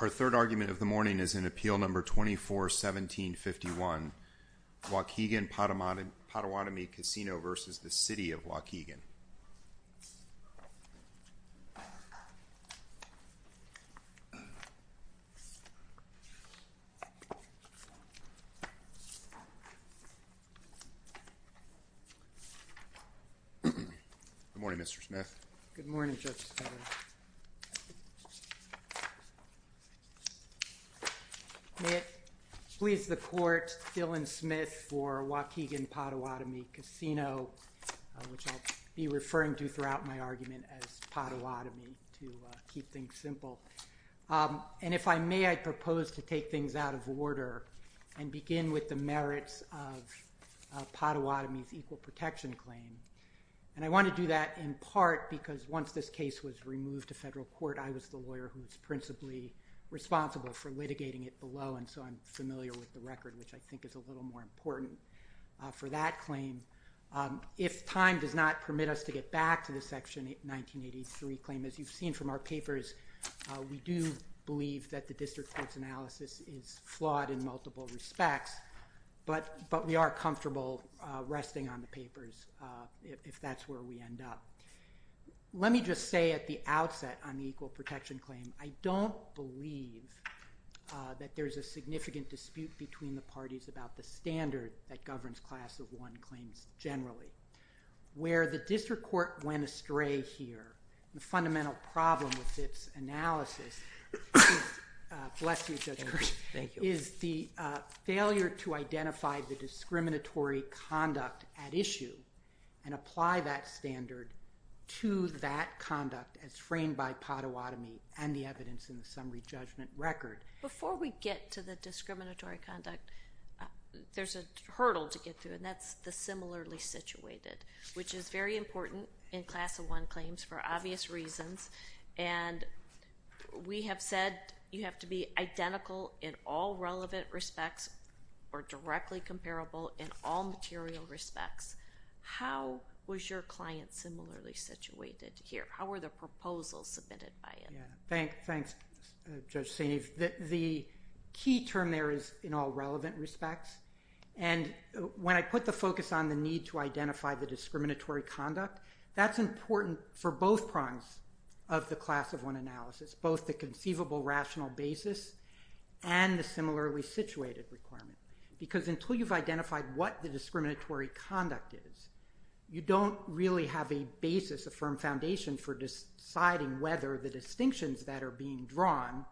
Our third argument of the morning is in Appeal No. 24-1751, Waukegan Potawatomi Casino v. City of Waukegan. Good morning Mr. Smith. Good morning, Judge Sutter. May it please the Court, Dylan Smith for Waukegan Potawatomi Casino, which I'll be referring to throughout my argument as Potawatomi to keep things simple. And if I may, I propose to take things out of order and begin with the merits of Potawatomi's And I want to do that in part because once this case was removed to federal court, I was the lawyer who was principally responsible for litigating it below, and so I'm familiar with the record, which I think is a little more important for that claim. If time does not permit us to get back to the Section 1983 claim, as you've seen from our papers, we do believe that the district court's analysis is flawed in multiple respects, but we are comfortable resting on the papers if that's where we end up. Let me just say at the outset on the equal protection claim, I don't believe that there's a significant dispute between the parties about the standard that governs Class of 1 claims generally. Where the district court went astray here, the fundamental problem with its analysis is the failure to identify the discriminatory conduct at issue and apply that standard to that conduct as framed by Potawatomi and the evidence in the summary judgment record. Before we get to the discriminatory conduct, there's a hurdle to get through, and that's the similarly situated, which is very important in Class of 1 claims for obvious reasons, and we have said you have to be identical in all relevant respects or directly comparable in all material respects. How was your client similarly situated here? How were the proposals submitted by it? Thanks, Judge Saini. The key term there is in all relevant respects, and when I put the focus on the need to identify the discriminatory conduct, that's important for both prongs of the Class of 1 analysis, both the conceivable rational basis and the similarly situated requirement. Because until you've identified what the discriminatory conduct is, you don't really have a basis, a firm foundation for deciding whether the distinctions that are being drawn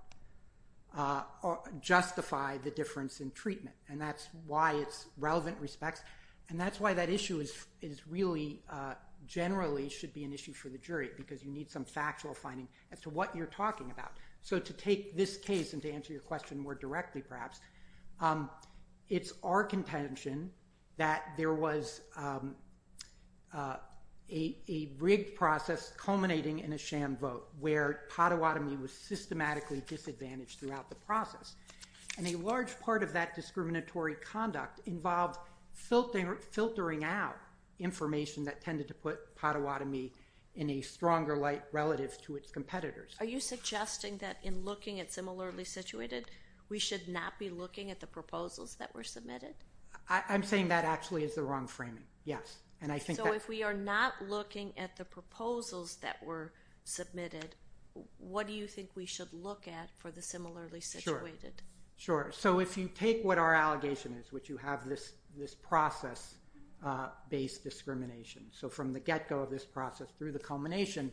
justify the difference in treatment. And that's why it's relevant respects, and that's why that issue is really generally should be an issue for the jury because you need some factual finding as to what you're talking about. So to take this case and to answer your question more directly perhaps, it's our contention that there was a rigged process culminating in a sham vote where Potawatomi was systematically disadvantaged throughout the process. And a large part of that discriminatory conduct involved filtering out information that tended to put Potawatomi in a stronger light relative to its competitors. Are you suggesting that in looking at similarly situated, we should not be looking at the proposals that were submitted? I'm saying that actually is the wrong framing, yes. So if we are not looking at the proposals that were submitted, what do you think we should look at for the similarly situated? So if you take what our allegation is, which you have this process-based discrimination, so from the get-go of this process through the culmination,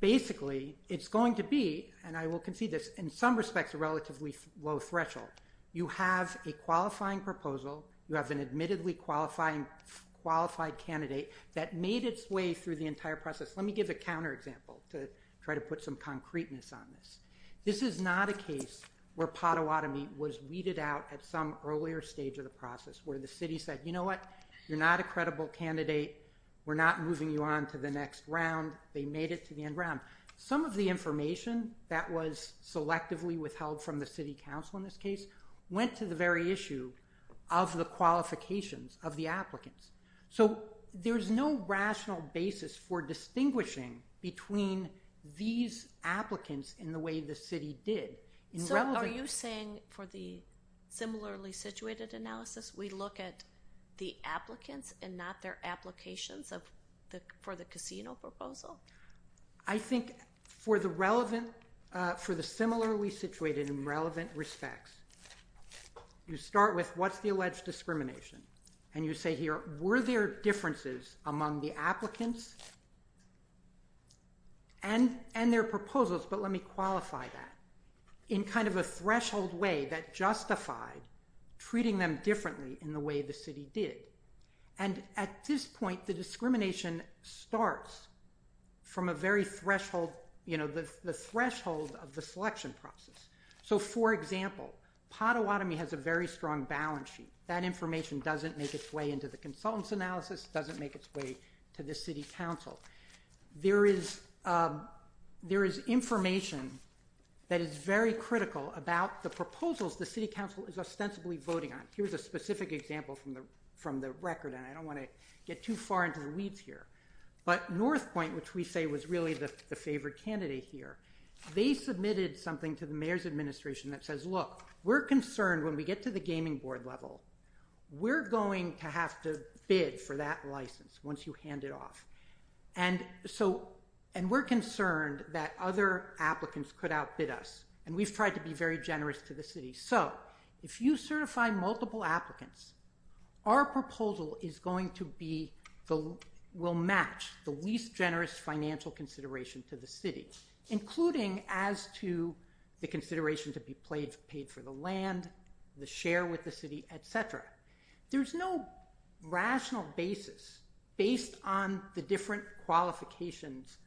basically it's going to be, and I will concede this, in some respects a relatively low threshold. You have a qualifying proposal, you have an admittedly qualified candidate that made its way through the entire process. Let me give a counterexample to try to put some concreteness on this. This is not a case where Potawatomi was weeded out at some earlier stage of the process where the city said, you know what, you're not a credible candidate, we're not moving you on to the next round, they made it to the end round. Some of the information that was selectively withheld from the city council in this case went to the very issue of the qualifications of the applicants. So there's no rational basis for distinguishing between these applicants in the way the city did. So are you saying for the similarly situated analysis we look at the applicants and not their applications for the casino proposal? I think for the similarly situated in relevant respects, you start with what's the alleged discrimination? And you say here, were there differences among the applicants and their proposals, but let me qualify that, in kind of a threshold way that justified treating them differently in the way the city did. And at this point the discrimination starts from a very threshold, you know, the threshold of the selection process. So for example, Potawatomi has a very strong balance sheet. That information doesn't make its way into the consultant's analysis, doesn't make its way to the city council. There is information that is very critical about the proposals the city council is ostensibly voting on. Here's a specific example from the record, and I don't want to get too far into the weeds here. But North Point, which we say was really the favored candidate here, they submitted something to the mayor's administration that says, look, we're concerned when we get to the gaming board level, we're going to have to bid for that license once you hand it off. And so, and we're concerned that other applicants could outbid us. And we've tried to be very generous to the city. So if you certify multiple applicants, our proposal is going to be, will match the least generous financial consideration to the city, including as to the consideration to be paid for the land, the share with the city, et cetera. There's no rational basis based on the different qualifications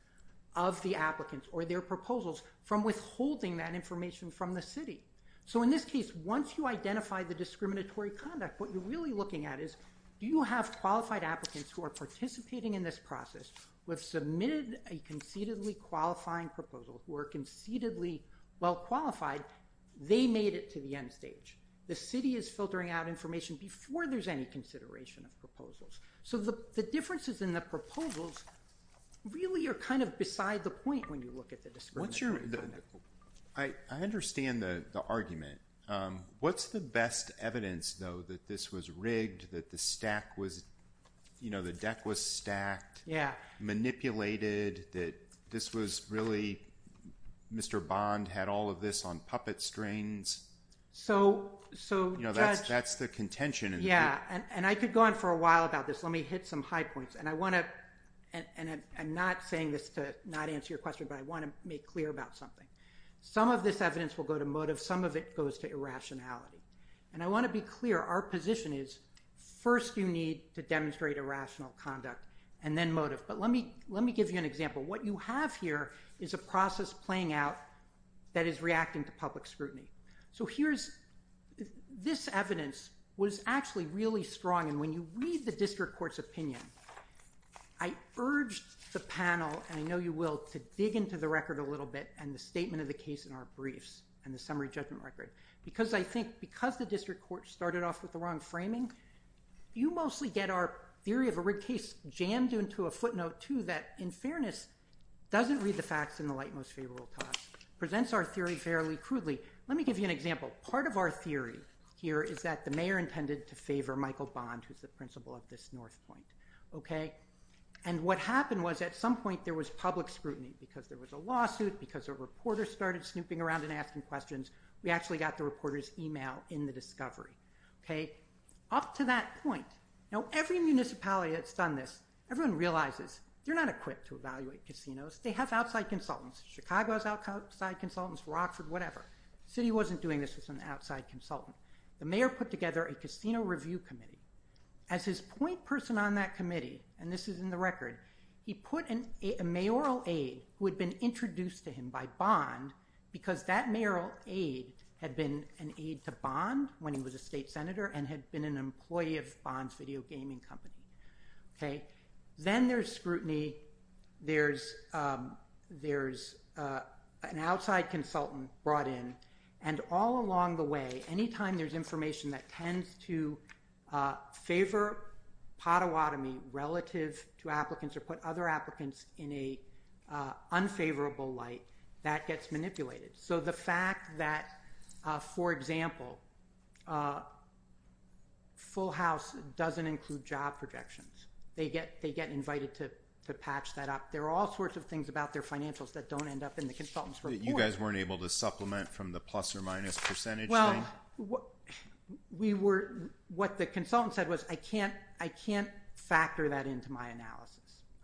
of the applicants or their proposals from withholding that information from the city. So in this case, once you identify the discriminatory conduct, what you're really looking at is do you have qualified applicants who are participating in this process, who have submitted a concededly qualifying proposal, who are concededly well qualified, they made it to the end stage. The city is filtering out information before there's any consideration of proposals. So the differences in the proposals really are kind of beside the point when you look at the discriminatory conduct. I understand the argument. What's the best evidence, though, that this was rigged, that the stack was, you know, the deck was stacked? Manipulated? That this was really, Mr. Bond had all of this on puppet strings? So, Judge. You know, that's the contention. Yeah. And I could go on for a while about this. Let me hit some high points. And I want to, and I'm not saying this to not answer your question, but I want to make clear about something. Some of this evidence will go to motive. Some of it goes to irrationality. And I want to be clear. Our position is, first you need to demonstrate irrational conduct and then motive. But let me give you an example. What you have here is a process playing out that is reacting to public scrutiny. So here's, this evidence was actually really strong. And when you read the district court's opinion, I urged the panel, and I know you will, to dig into the record a little bit and the statement of the case in our briefs and the summary judgment record. Because I think, because the district court started off with the wrong framing, you mostly get our theory of a rigged case jammed into a footnote, too, that in fairness doesn't read the facts in the light most favorable time. Presents our theory fairly crudely. Let me give you an example. Part of our theory here is that the mayor intended to favor Michael Bond, who's the principal of this North Point. Okay? And what happened was at some point there was public scrutiny because there was a lawsuit, because a reporter started snooping around and asking questions. We actually got the reporter's email in the discovery. Okay? Up to that point, now every municipality that's done this, everyone realizes they're not equipped to evaluate casinos. They have outside consultants. Chicago has outside consultants, Rockford, whatever. The city wasn't doing this with an outside consultant. The mayor put together a casino review committee. As his point person on that committee, and this is in the record, he put a mayoral aide who had been introduced to him by Bond because that mayoral aide had been an aide to Bond when he was a state senator and had been an employee of Bond's video gaming company. Okay? Then there's scrutiny. There's an outside consultant brought in. And all along the way, anytime there's information that tends to favor potawatomi relative to applicants or put other applicants in an unfavorable light, that gets manipulated. So the fact that, for example, Full House doesn't include job projections. They get invited to patch that up. There are all sorts of things about their financials that don't end up in the consultant's report. You guys weren't able to supplement from the plus or minus percentage thing? What the consultant said was, I can't factor that into my analysis.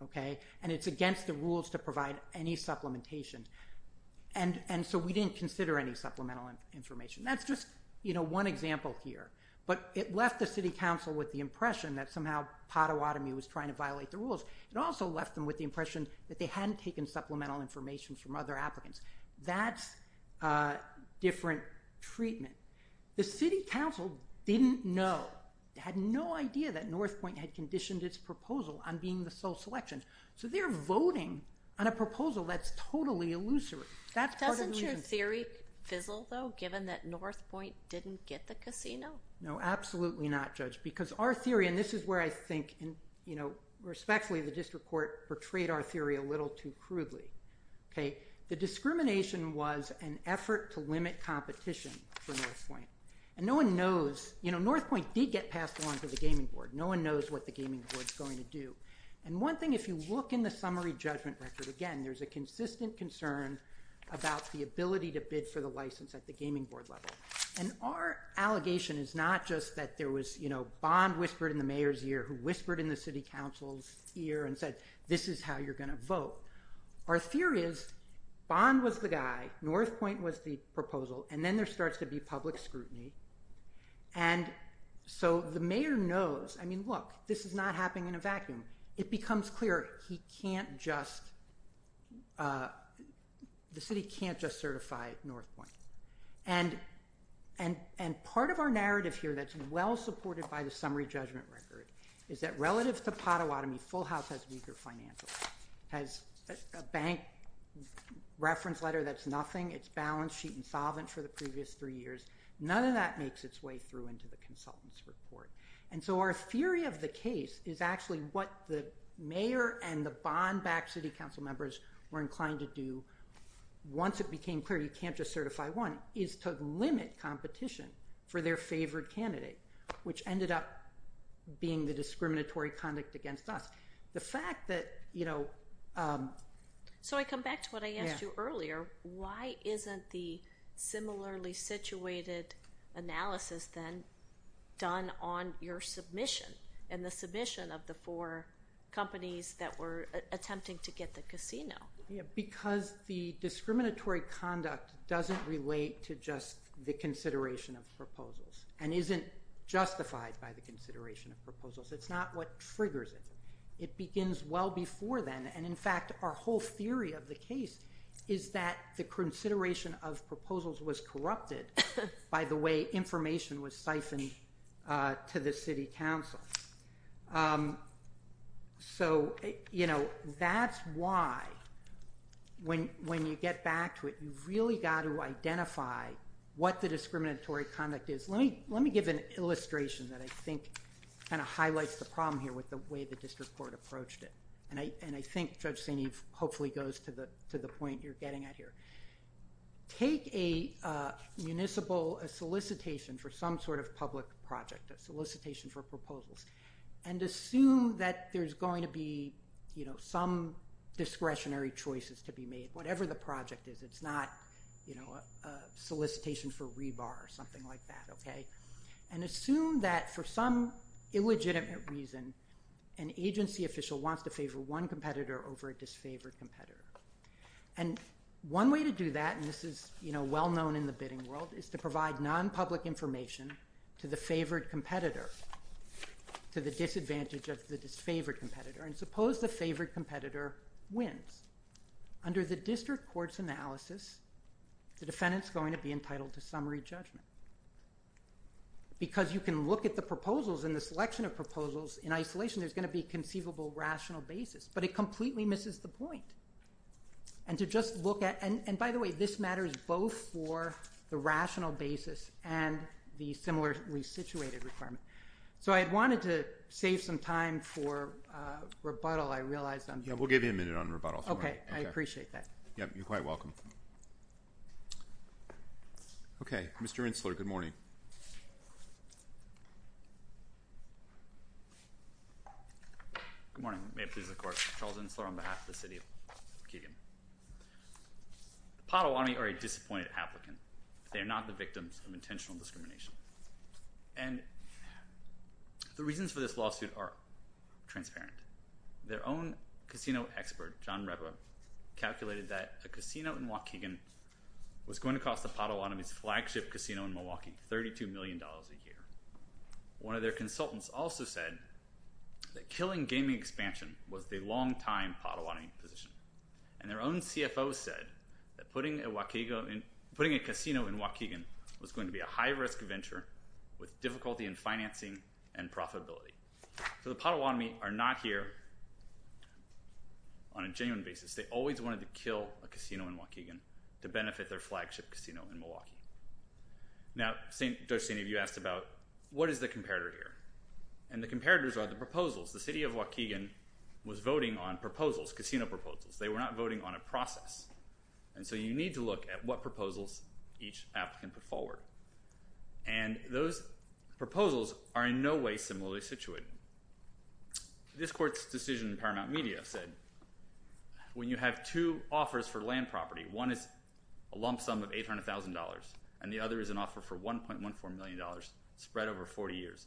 Okay? And it's against the rules to provide any supplementation. And so we didn't consider any supplemental information. That's just one example here. But it left the city council with the impression that somehow potawatomi was trying to violate the rules. It also left them with the impression that they hadn't taken supplemental information from other applicants. That's different treatment. The city council didn't know, had no idea that Northpointe had conditioned its proposal on being the sole selection. So they're voting on a proposal that's totally illusory. Doesn't your theory fizzle, though, given that Northpointe didn't get the casino? No, absolutely not, Judge, because our theory, and this is where I think, you know, respectfully, the district court portrayed our theory a little too crudely. Okay? The discrimination was an effort to limit competition for Northpointe. And no one knows, you know, Northpointe did get passed along to the gaming board. No one knows what the gaming board's going to do. And one thing, if you look in the summary judgment record, again, there's a consistent concern about the ability to bid for the license at the gaming board level. And our allegation is not just that there was, you know, bond whispered in the mayor's ear, who whispered in the city council's ear and said, this is how you're going to vote. Our theory is bond was the guy, Northpointe was the proposal, and then there starts to be public scrutiny. And so the mayor knows, I mean, look, this is not happening in a vacuum. It becomes clear he can't just, the city can't just certify Northpointe. And part of our narrative here that's well supported by the summary judgment record is that relative to Pottawatomie, Full House has weaker financials, has a bank reference letter that's nothing. It's balance sheet insolvent for the previous three years. None of that makes its way through into the consultant's report. And so our theory of the case is actually what the mayor and the bond-backed city council members were inclined to do. Once it became clear you can't just certify one, is to limit competition for their favored candidate, which ended up being the discriminatory conduct against us. The fact that, you know. So I come back to what I asked you earlier. Why isn't the similarly situated analysis then done on your submission and the submission of the four companies that were attempting to get the casino? Because the discriminatory conduct doesn't relate to just the consideration of proposals and isn't justified by the consideration of proposals. It's not what triggers it. It begins well before then. And in fact, our whole theory of the case is that the consideration of proposals was corrupted by the way information was siphoned to the city council. So, you know, that's why when you get back to it, you've really got to identify what the discriminatory conduct is. Let me give an illustration that I think kind of highlights the problem here with the way the district court approached it. And I think Judge St. Eve hopefully goes to the point you're getting at here. Take a municipal solicitation for some sort of public project, a solicitation for proposals, and assume that there's going to be, you know, some discretionary choices to be made, whatever the project is. It's not, you know, a solicitation for rebar or something like that, okay? And assume that for some illegitimate reason, an agency official wants to favor one competitor over a disfavored competitor. And one way to do that, and this is, you know, well-known in the bidding world, is to provide nonpublic information to the favored competitor, to the disadvantage of the disfavored competitor. And suppose the favored competitor wins. Under the district court's analysis, the defendant's going to be entitled to summary judgment. Because you can look at the proposals and the selection of proposals in isolation, there's going to be conceivable rational basis. But it completely misses the point. And to just look at, and by the way, this matters both for the rational basis and the similar re-situated requirement. So I had wanted to save some time for rebuttal. I realize I'm- Yeah, we'll give you a minute on rebuttal. Okay, I appreciate that. Yep, you're quite welcome. Okay, Mr. Insler, good morning. Good morning. May it please the court, Charles Insler on behalf of the city of Keegan. The Potawatomi are a disappointed applicant. They are not the victims of intentional discrimination. And the reasons for this lawsuit are transparent. Their own casino expert, John Reba, calculated that a casino in Waukegan was going to cost the Potawatomi's flagship casino in Milwaukee $32 million a year. One of their consultants also said that killing gaming expansion was the long-time Potawatomi position. And their own CFO said that putting a casino in Waukegan was going to be a high-risk venture with difficulty in financing and profitability. So the Potawatomi are not here on a genuine basis. They always wanted to kill a casino in Waukegan to benefit their flagship casino in Milwaukee. Now, Judge St. Evie asked about what is the comparator here. And the comparators are the proposals. The city of Waukegan was voting on proposals, casino proposals. They were not voting on a process. And so you need to look at what proposals each applicant put forward. And those proposals are in no way similarly situated. This court's decision in Paramount Media said when you have two offers for land property, one is a lump sum of $800,000 and the other is an offer for $1.14 million spread over 40 years.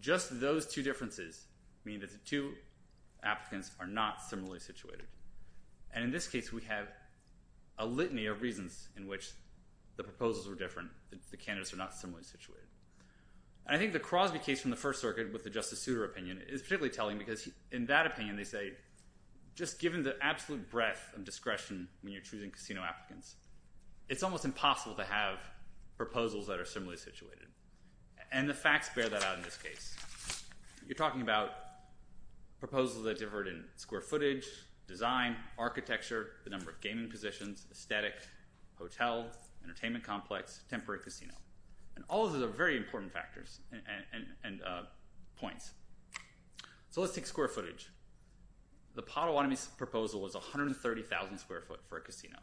Just those two differences mean that the two applicants are not similarly situated. And in this case, we have a litany of reasons in which the proposals were different, the candidates are not similarly situated. And I think the Crosby case from the First Circuit with the Justice Souter opinion is particularly telling because in that opinion, they say, just given the absolute breadth of discretion when you're choosing casino applicants, it's almost impossible to have proposals that are similarly situated. And the facts bear that out in this case. You're talking about proposals that differed in square footage, design, architecture, the number of gaming positions, aesthetic, hotel, entertainment complex, temporary casino. And all of those are very important factors and points. So let's take square footage. The Potawatomi's proposal was 130,000 square foot for a casino.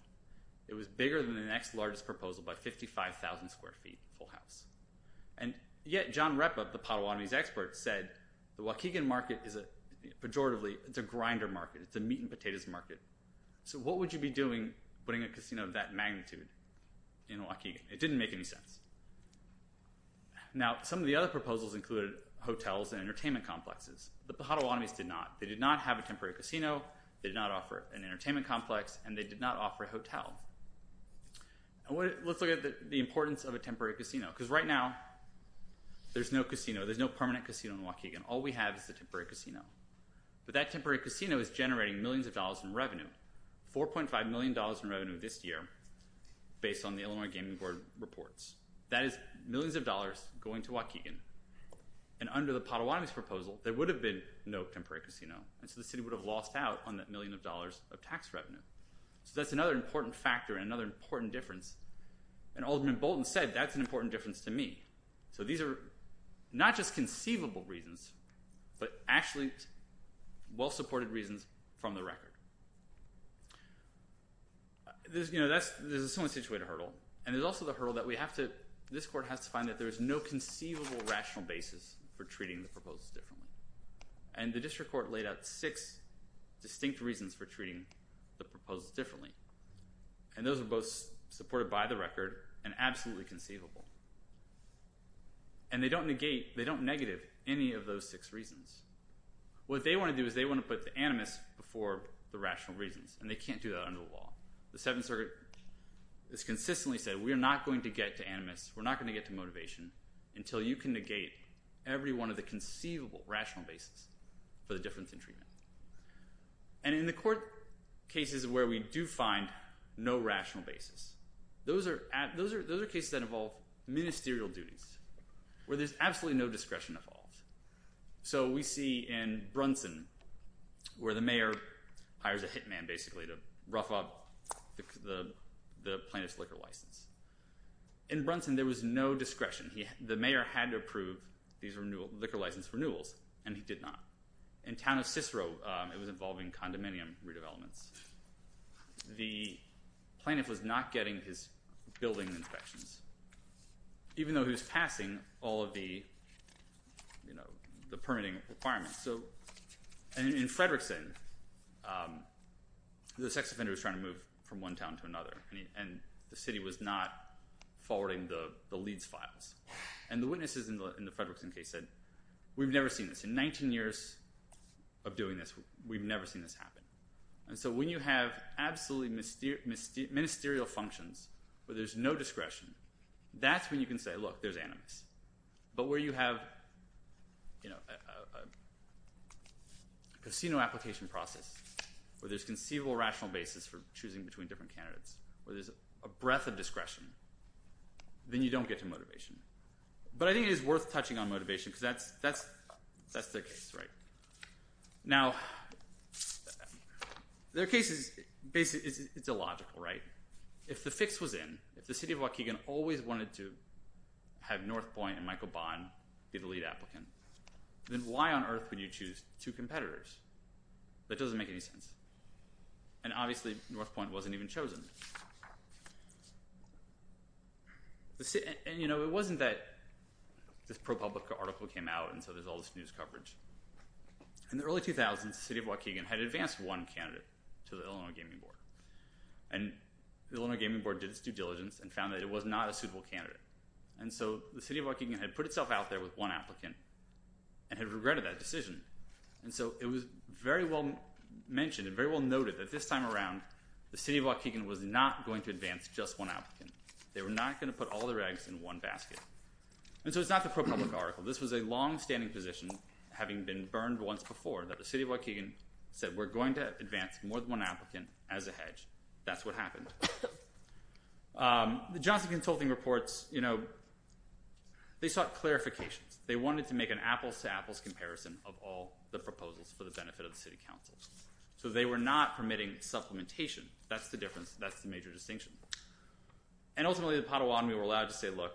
It was bigger than the next largest proposal by 55,000 square feet, full house. And yet John Repa, the Potawatomi's expert, said the Waukegan market is a, pejoratively, it's a grinder market, it's a meat and potatoes market. So what would you be doing putting a casino of that magnitude in Waukegan? It didn't make any sense. Now, some of the other proposals included hotels and entertainment complexes. The Potawatomi's did not. They did not have a temporary casino. They did not offer an entertainment complex. And they did not offer a hotel. Let's look at the importance of a temporary casino because right now, there's no casino. There's no permanent casino in Waukegan. All we have is a temporary casino. But that temporary casino is generating millions of dollars in revenue, $4.5 million in revenue this year based on the Illinois Gaming Board reports. That is millions of dollars going to Waukegan. And under the Potawatomi's proposal, there would have been no temporary casino. And so the city would have lost out on that million of dollars of tax revenue. So that's another important factor and another important difference. And Alderman Bolton said, that's an important difference to me. So these are not just conceivable reasons but actually well-supported reasons from the record. There's, you know, someone situated hurdle. And there's also the hurdle that we have to, this court has to find that there's no conceivable rational basis for treating the proposals differently. And the district court laid out six distinct reasons for treating the proposals differently. And those are both supported by the record and absolutely conceivable. And they don't negate, they don't negative any of those six reasons. What they want to do is they want to put the animus before the rational reasons. And they can't do that under the law. The Seventh Circuit has consistently said, we are not going to get to animus. We're not going to get to motivation until you can negate every one of the conceivable rational basis for the difference in treatment. And in the court cases where we do find no rational basis, those are cases that involve ministerial duties where there's absolutely no discretion involved. So we see in Brunson where the mayor hires a hitman basically to rough up the plaintiff's liquor license. In Brunson, there was no discretion. The mayor had to approve these liquor license renewals and he did not. In town of Cicero, it was involving condominium redevelopments. The plaintiff was not getting his building inspections. Even though he was passing all of the permitting requirements. And in Frederickson, the sex offender was trying to move from one town to another. And the city was not forwarding the leads files. And the witnesses in the Frederickson case said, we've never seen this. In 19 years of doing this, we've never seen this happen. And so when you have absolutely ministerial functions where there's no discretion, that's when you can say, look, there's animus. But where you have a casino application process where there's conceivable rational basis for choosing between different candidates, where there's a breadth of discretion, then you don't get to motivation. But I think it is worth touching on motivation because that's the case, right? Now, there are cases, it's illogical, right? If the fix was in, if the city of Waukegan always wanted to have Northpointe and Michael Bond be the lead applicant, then why on earth would you choose two competitors? That doesn't make any sense. And obviously, Northpointe wasn't even chosen. And, you know, it wasn't that this ProPublica article came out and so there's all this news coverage. In the early 2000s, the city of Waukegan had advanced one candidate to the Illinois Gaming Board. And the Illinois Gaming Board did its due diligence and found that it was not a suitable candidate. And so the city of Waukegan had put itself out there with one applicant and had regretted that decision. And so it was very well mentioned and very well noted that this time around, the city of Waukegan was not going to advance just one applicant. They were not going to put all their eggs in one basket. And so it's not the ProPublica article. This was a longstanding position, having been burned once before, that the city of Waukegan said we're going to advance more than one applicant as a hedge. That's what happened. The Johnson Consulting reports, you know, they sought clarifications. They wanted to make an apples-to-apples comparison of all the proposals for the benefit of the city council. So they were not permitting supplementation. That's the difference. That's the major distinction. And ultimately the Potawatomi were allowed to say, look.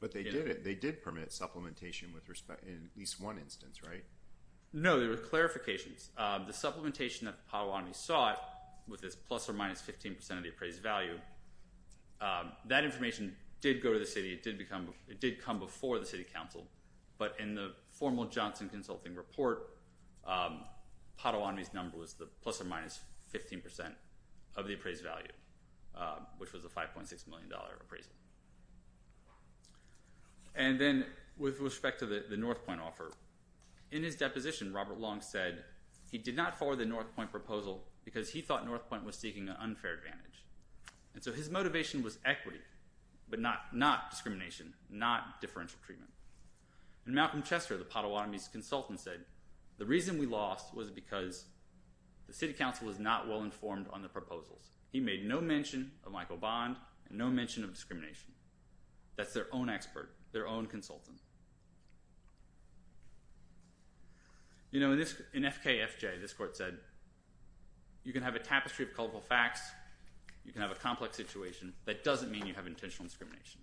But they did it. They did permit supplementation in at least one instance, right? No, there were clarifications. The supplementation that the Potawatomi sought with this plus or minus 15 percent of the appraised value, that information did go to the city. It did come before the city council. But in the formal Johnson Consulting report, Potawatomi's number was the plus or minus 15 percent of the appraised value, which was a $5.6 million appraisal. And then with respect to the North Point offer, in his deposition Robert Long said he did not forward the North Point proposal because he thought North Point was seeking an unfair advantage. And so his motivation was equity, but not discrimination, not differential treatment. And Malcolm Chester, the Potawatomi's consultant, said the reason we lost was because the city council was not well informed on the proposals. He made no mention of Michael Bond and no mention of discrimination. That's their own expert, their own consultant. You know, in FKFJ this court said you can have a tapestry of colorful facts, you can have a complex situation, but it doesn't mean you have intentional discrimination.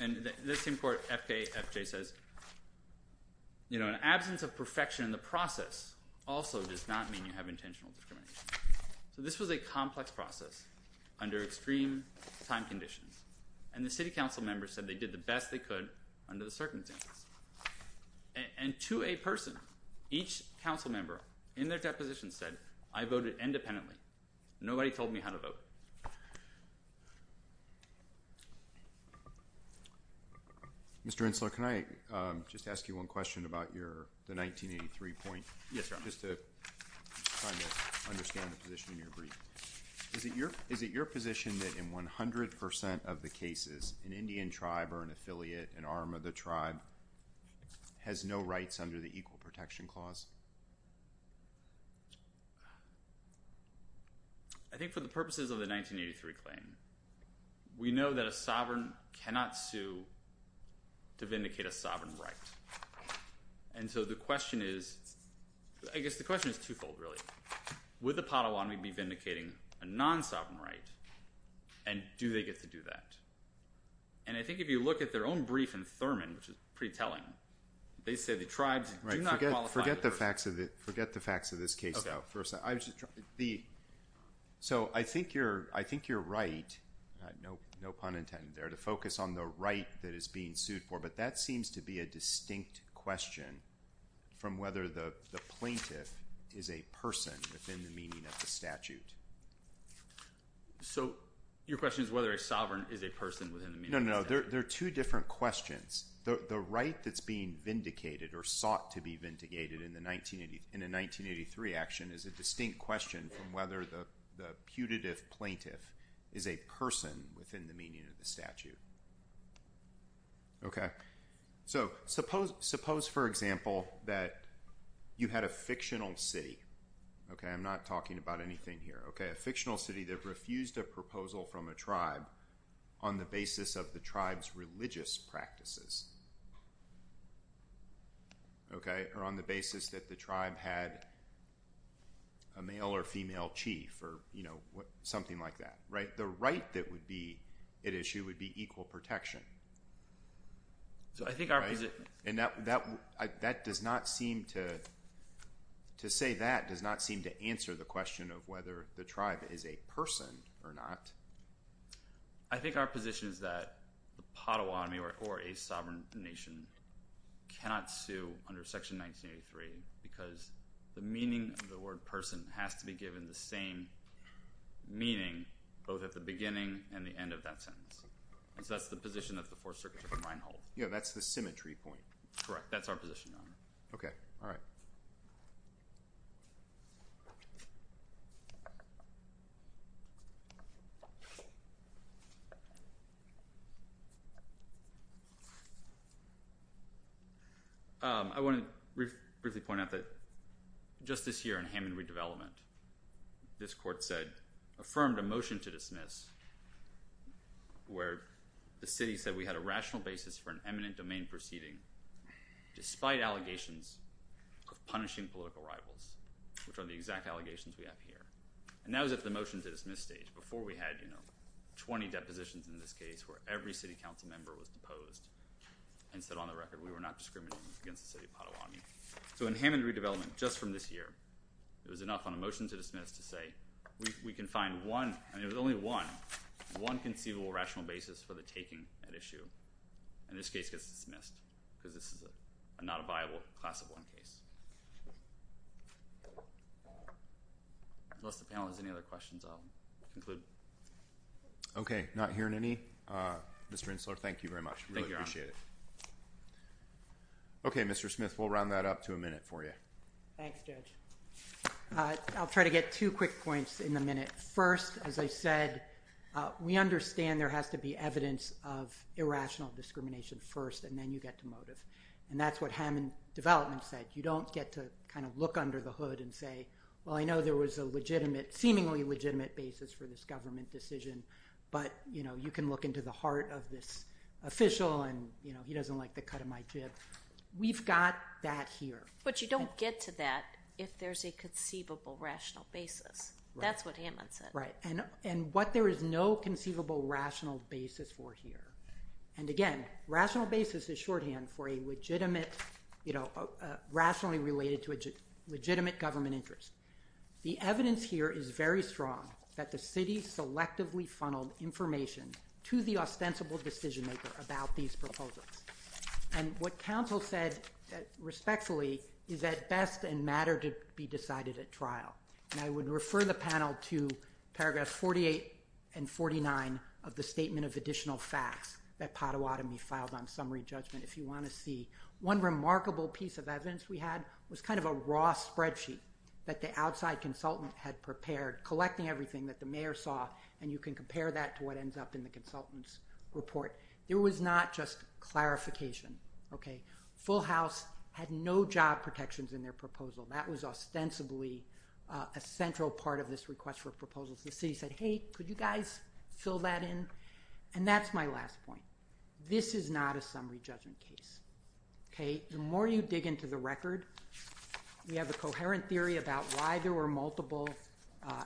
And this same court, FKFJ, says, you know, an absence of perfection in the process also does not mean you have intentional discrimination. So this was a complex process under extreme time conditions. And the city council members said they did the best they could under the circumstances. And to a person, each council member in their deposition said, I voted independently. Nobody told me how to vote. Mr. Insler, can I just ask you one question about the 1983 point? Yes, Your Honor. Just to kind of understand the position in your brief. Is it your position that in 100 percent of the cases, an Indian tribe or an affiliate, an arm of the tribe, has no rights under the Equal Protection Clause? I think for the purposes of the 1983 claim, we know that a sovereign cannot sue to vindicate a sovereign right. And so the question is, I guess the question is twofold, really. Would the pot of law be vindicating a non-sovereign right, and do they get to do that? And I think if you look at their own brief in Thurman, which is pretty telling, they say the tribes do not qualify. Forget the facts of this case, though. So I think you're right, no pun intended there, to focus on the right that is being sued for. But that seems to be a distinct question from whether the plaintiff is a person within the meaning of the statute. So your question is whether a sovereign is a person within the meaning of the statute? No, no, no. They're two different questions. The right that's being vindicated or sought to be vindicated in a 1983 action is a distinct question from whether the putative plaintiff is a person within the meaning of the statute. So suppose, for example, that you had a fictional city. I'm not talking about anything here. A fictional city that refused a proposal from a tribe on the basis of the tribe's religious practices or on the basis that the tribe had a male or female chief or something like that. The right that would be at issue would be equal protection. And to say that does not seem to answer the question of whether the tribe is a person or not. I think our position is that the Potawatomi or a sovereign nation cannot sue under Section 1983 because the meaning of the word person has to be given the same meaning both at the beginning and the end of that sentence. And so that's the position that the Fourth Circuit should remind all. Yeah, that's the symmetry point. Correct. That's our position. OK. All right. I want to briefly point out that just this year in Hammond redevelopment, this court said, affirmed a motion to dismiss where the city said we had a rational basis for an eminent domain proceeding despite allegations of punishing political rivals. Which are the exact allegations we have here. And that was at the motion to dismiss stage. Before we had, you know, 20 depositions in this case where every city council member was deposed and said on the record we were not discriminating against the city of Potawatomi. So in Hammond redevelopment just from this year, it was enough on a motion to dismiss to say we can find one, and it was only one, one conceivable rational basis for the taking at issue. And this case gets dismissed because this is not a viable class of one case. Unless the panel has any other questions, I'll conclude. OK. Not hearing any. Mr. Insler, thank you very much. I really appreciate it. OK. Mr. Smith, we'll round that up to a minute for you. Thanks, Judge. I'll try to get two quick points in the minute. First, as I said, we understand there has to be evidence of irrational discrimination first, and then you get to motive. And that's what Hammond development said. You don't get to kind of look under the hood and say, well, I know there was a legitimate, seemingly legitimate basis for this government decision, but, you know, you can look into the heart of this official and, you know, he doesn't like the cut of my chip. We've got that here. But you don't get to that if there's a conceivable rational basis. That's what Hammond said. Right. And what there is no conceivable rational basis for here. And again, rational basis is shorthand for a legitimate, you know, rationally related to a legitimate government interest. The evidence here is very strong that the city selectively funneled information to the ostensible decision maker about these proposals. And what counsel said respectfully is that best and matter to be decided at trial. And I would refer the panel to paragraphs 48 and 49 of the statement of additional facts that Pottawatomie filed on summary judgment if you want to see. One remarkable piece of evidence we had was kind of a raw spreadsheet that the outside consultant had prepared, collecting everything that the mayor saw, and you can compare that to what ends up in the consultant's report. There was not just clarification. Okay. Full House had no job protections in their proposal. That was ostensibly a central part of this request for proposals. The city said, hey, could you guys fill that in? And that's my last point. This is not a summary judgment case. Okay. The more you dig into the record, we have a coherent theory about why there were multiple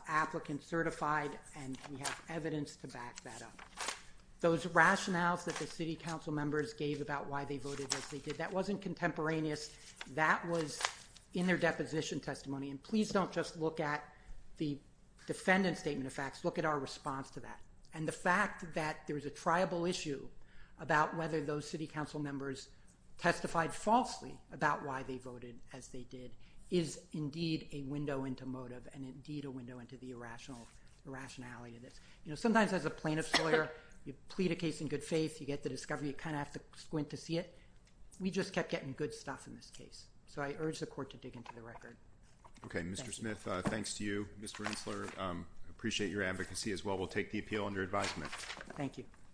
applicants certified, and we have evidence to back that up. Those rationales that the city council members gave about why they voted as they did, that wasn't contemporaneous. That was in their deposition testimony, and please don't just look at the defendant's statement of facts. Look at our response to that. And the fact that there was a triable issue about whether those city council members testified falsely about why they voted as they did is indeed a window into motive and indeed a window into the irrationality of this. You know, sometimes as a plaintiff's lawyer, you plead a case in good faith, you get the discovery, you kind of have to squint to see it. We just kept getting good stuff in this case. So I urge the court to dig into the record. Okay. Mr. Smith, thanks to you. Mr. Rensler, I appreciate your advocacy as well. We'll take the appeal under advisement. Thank you.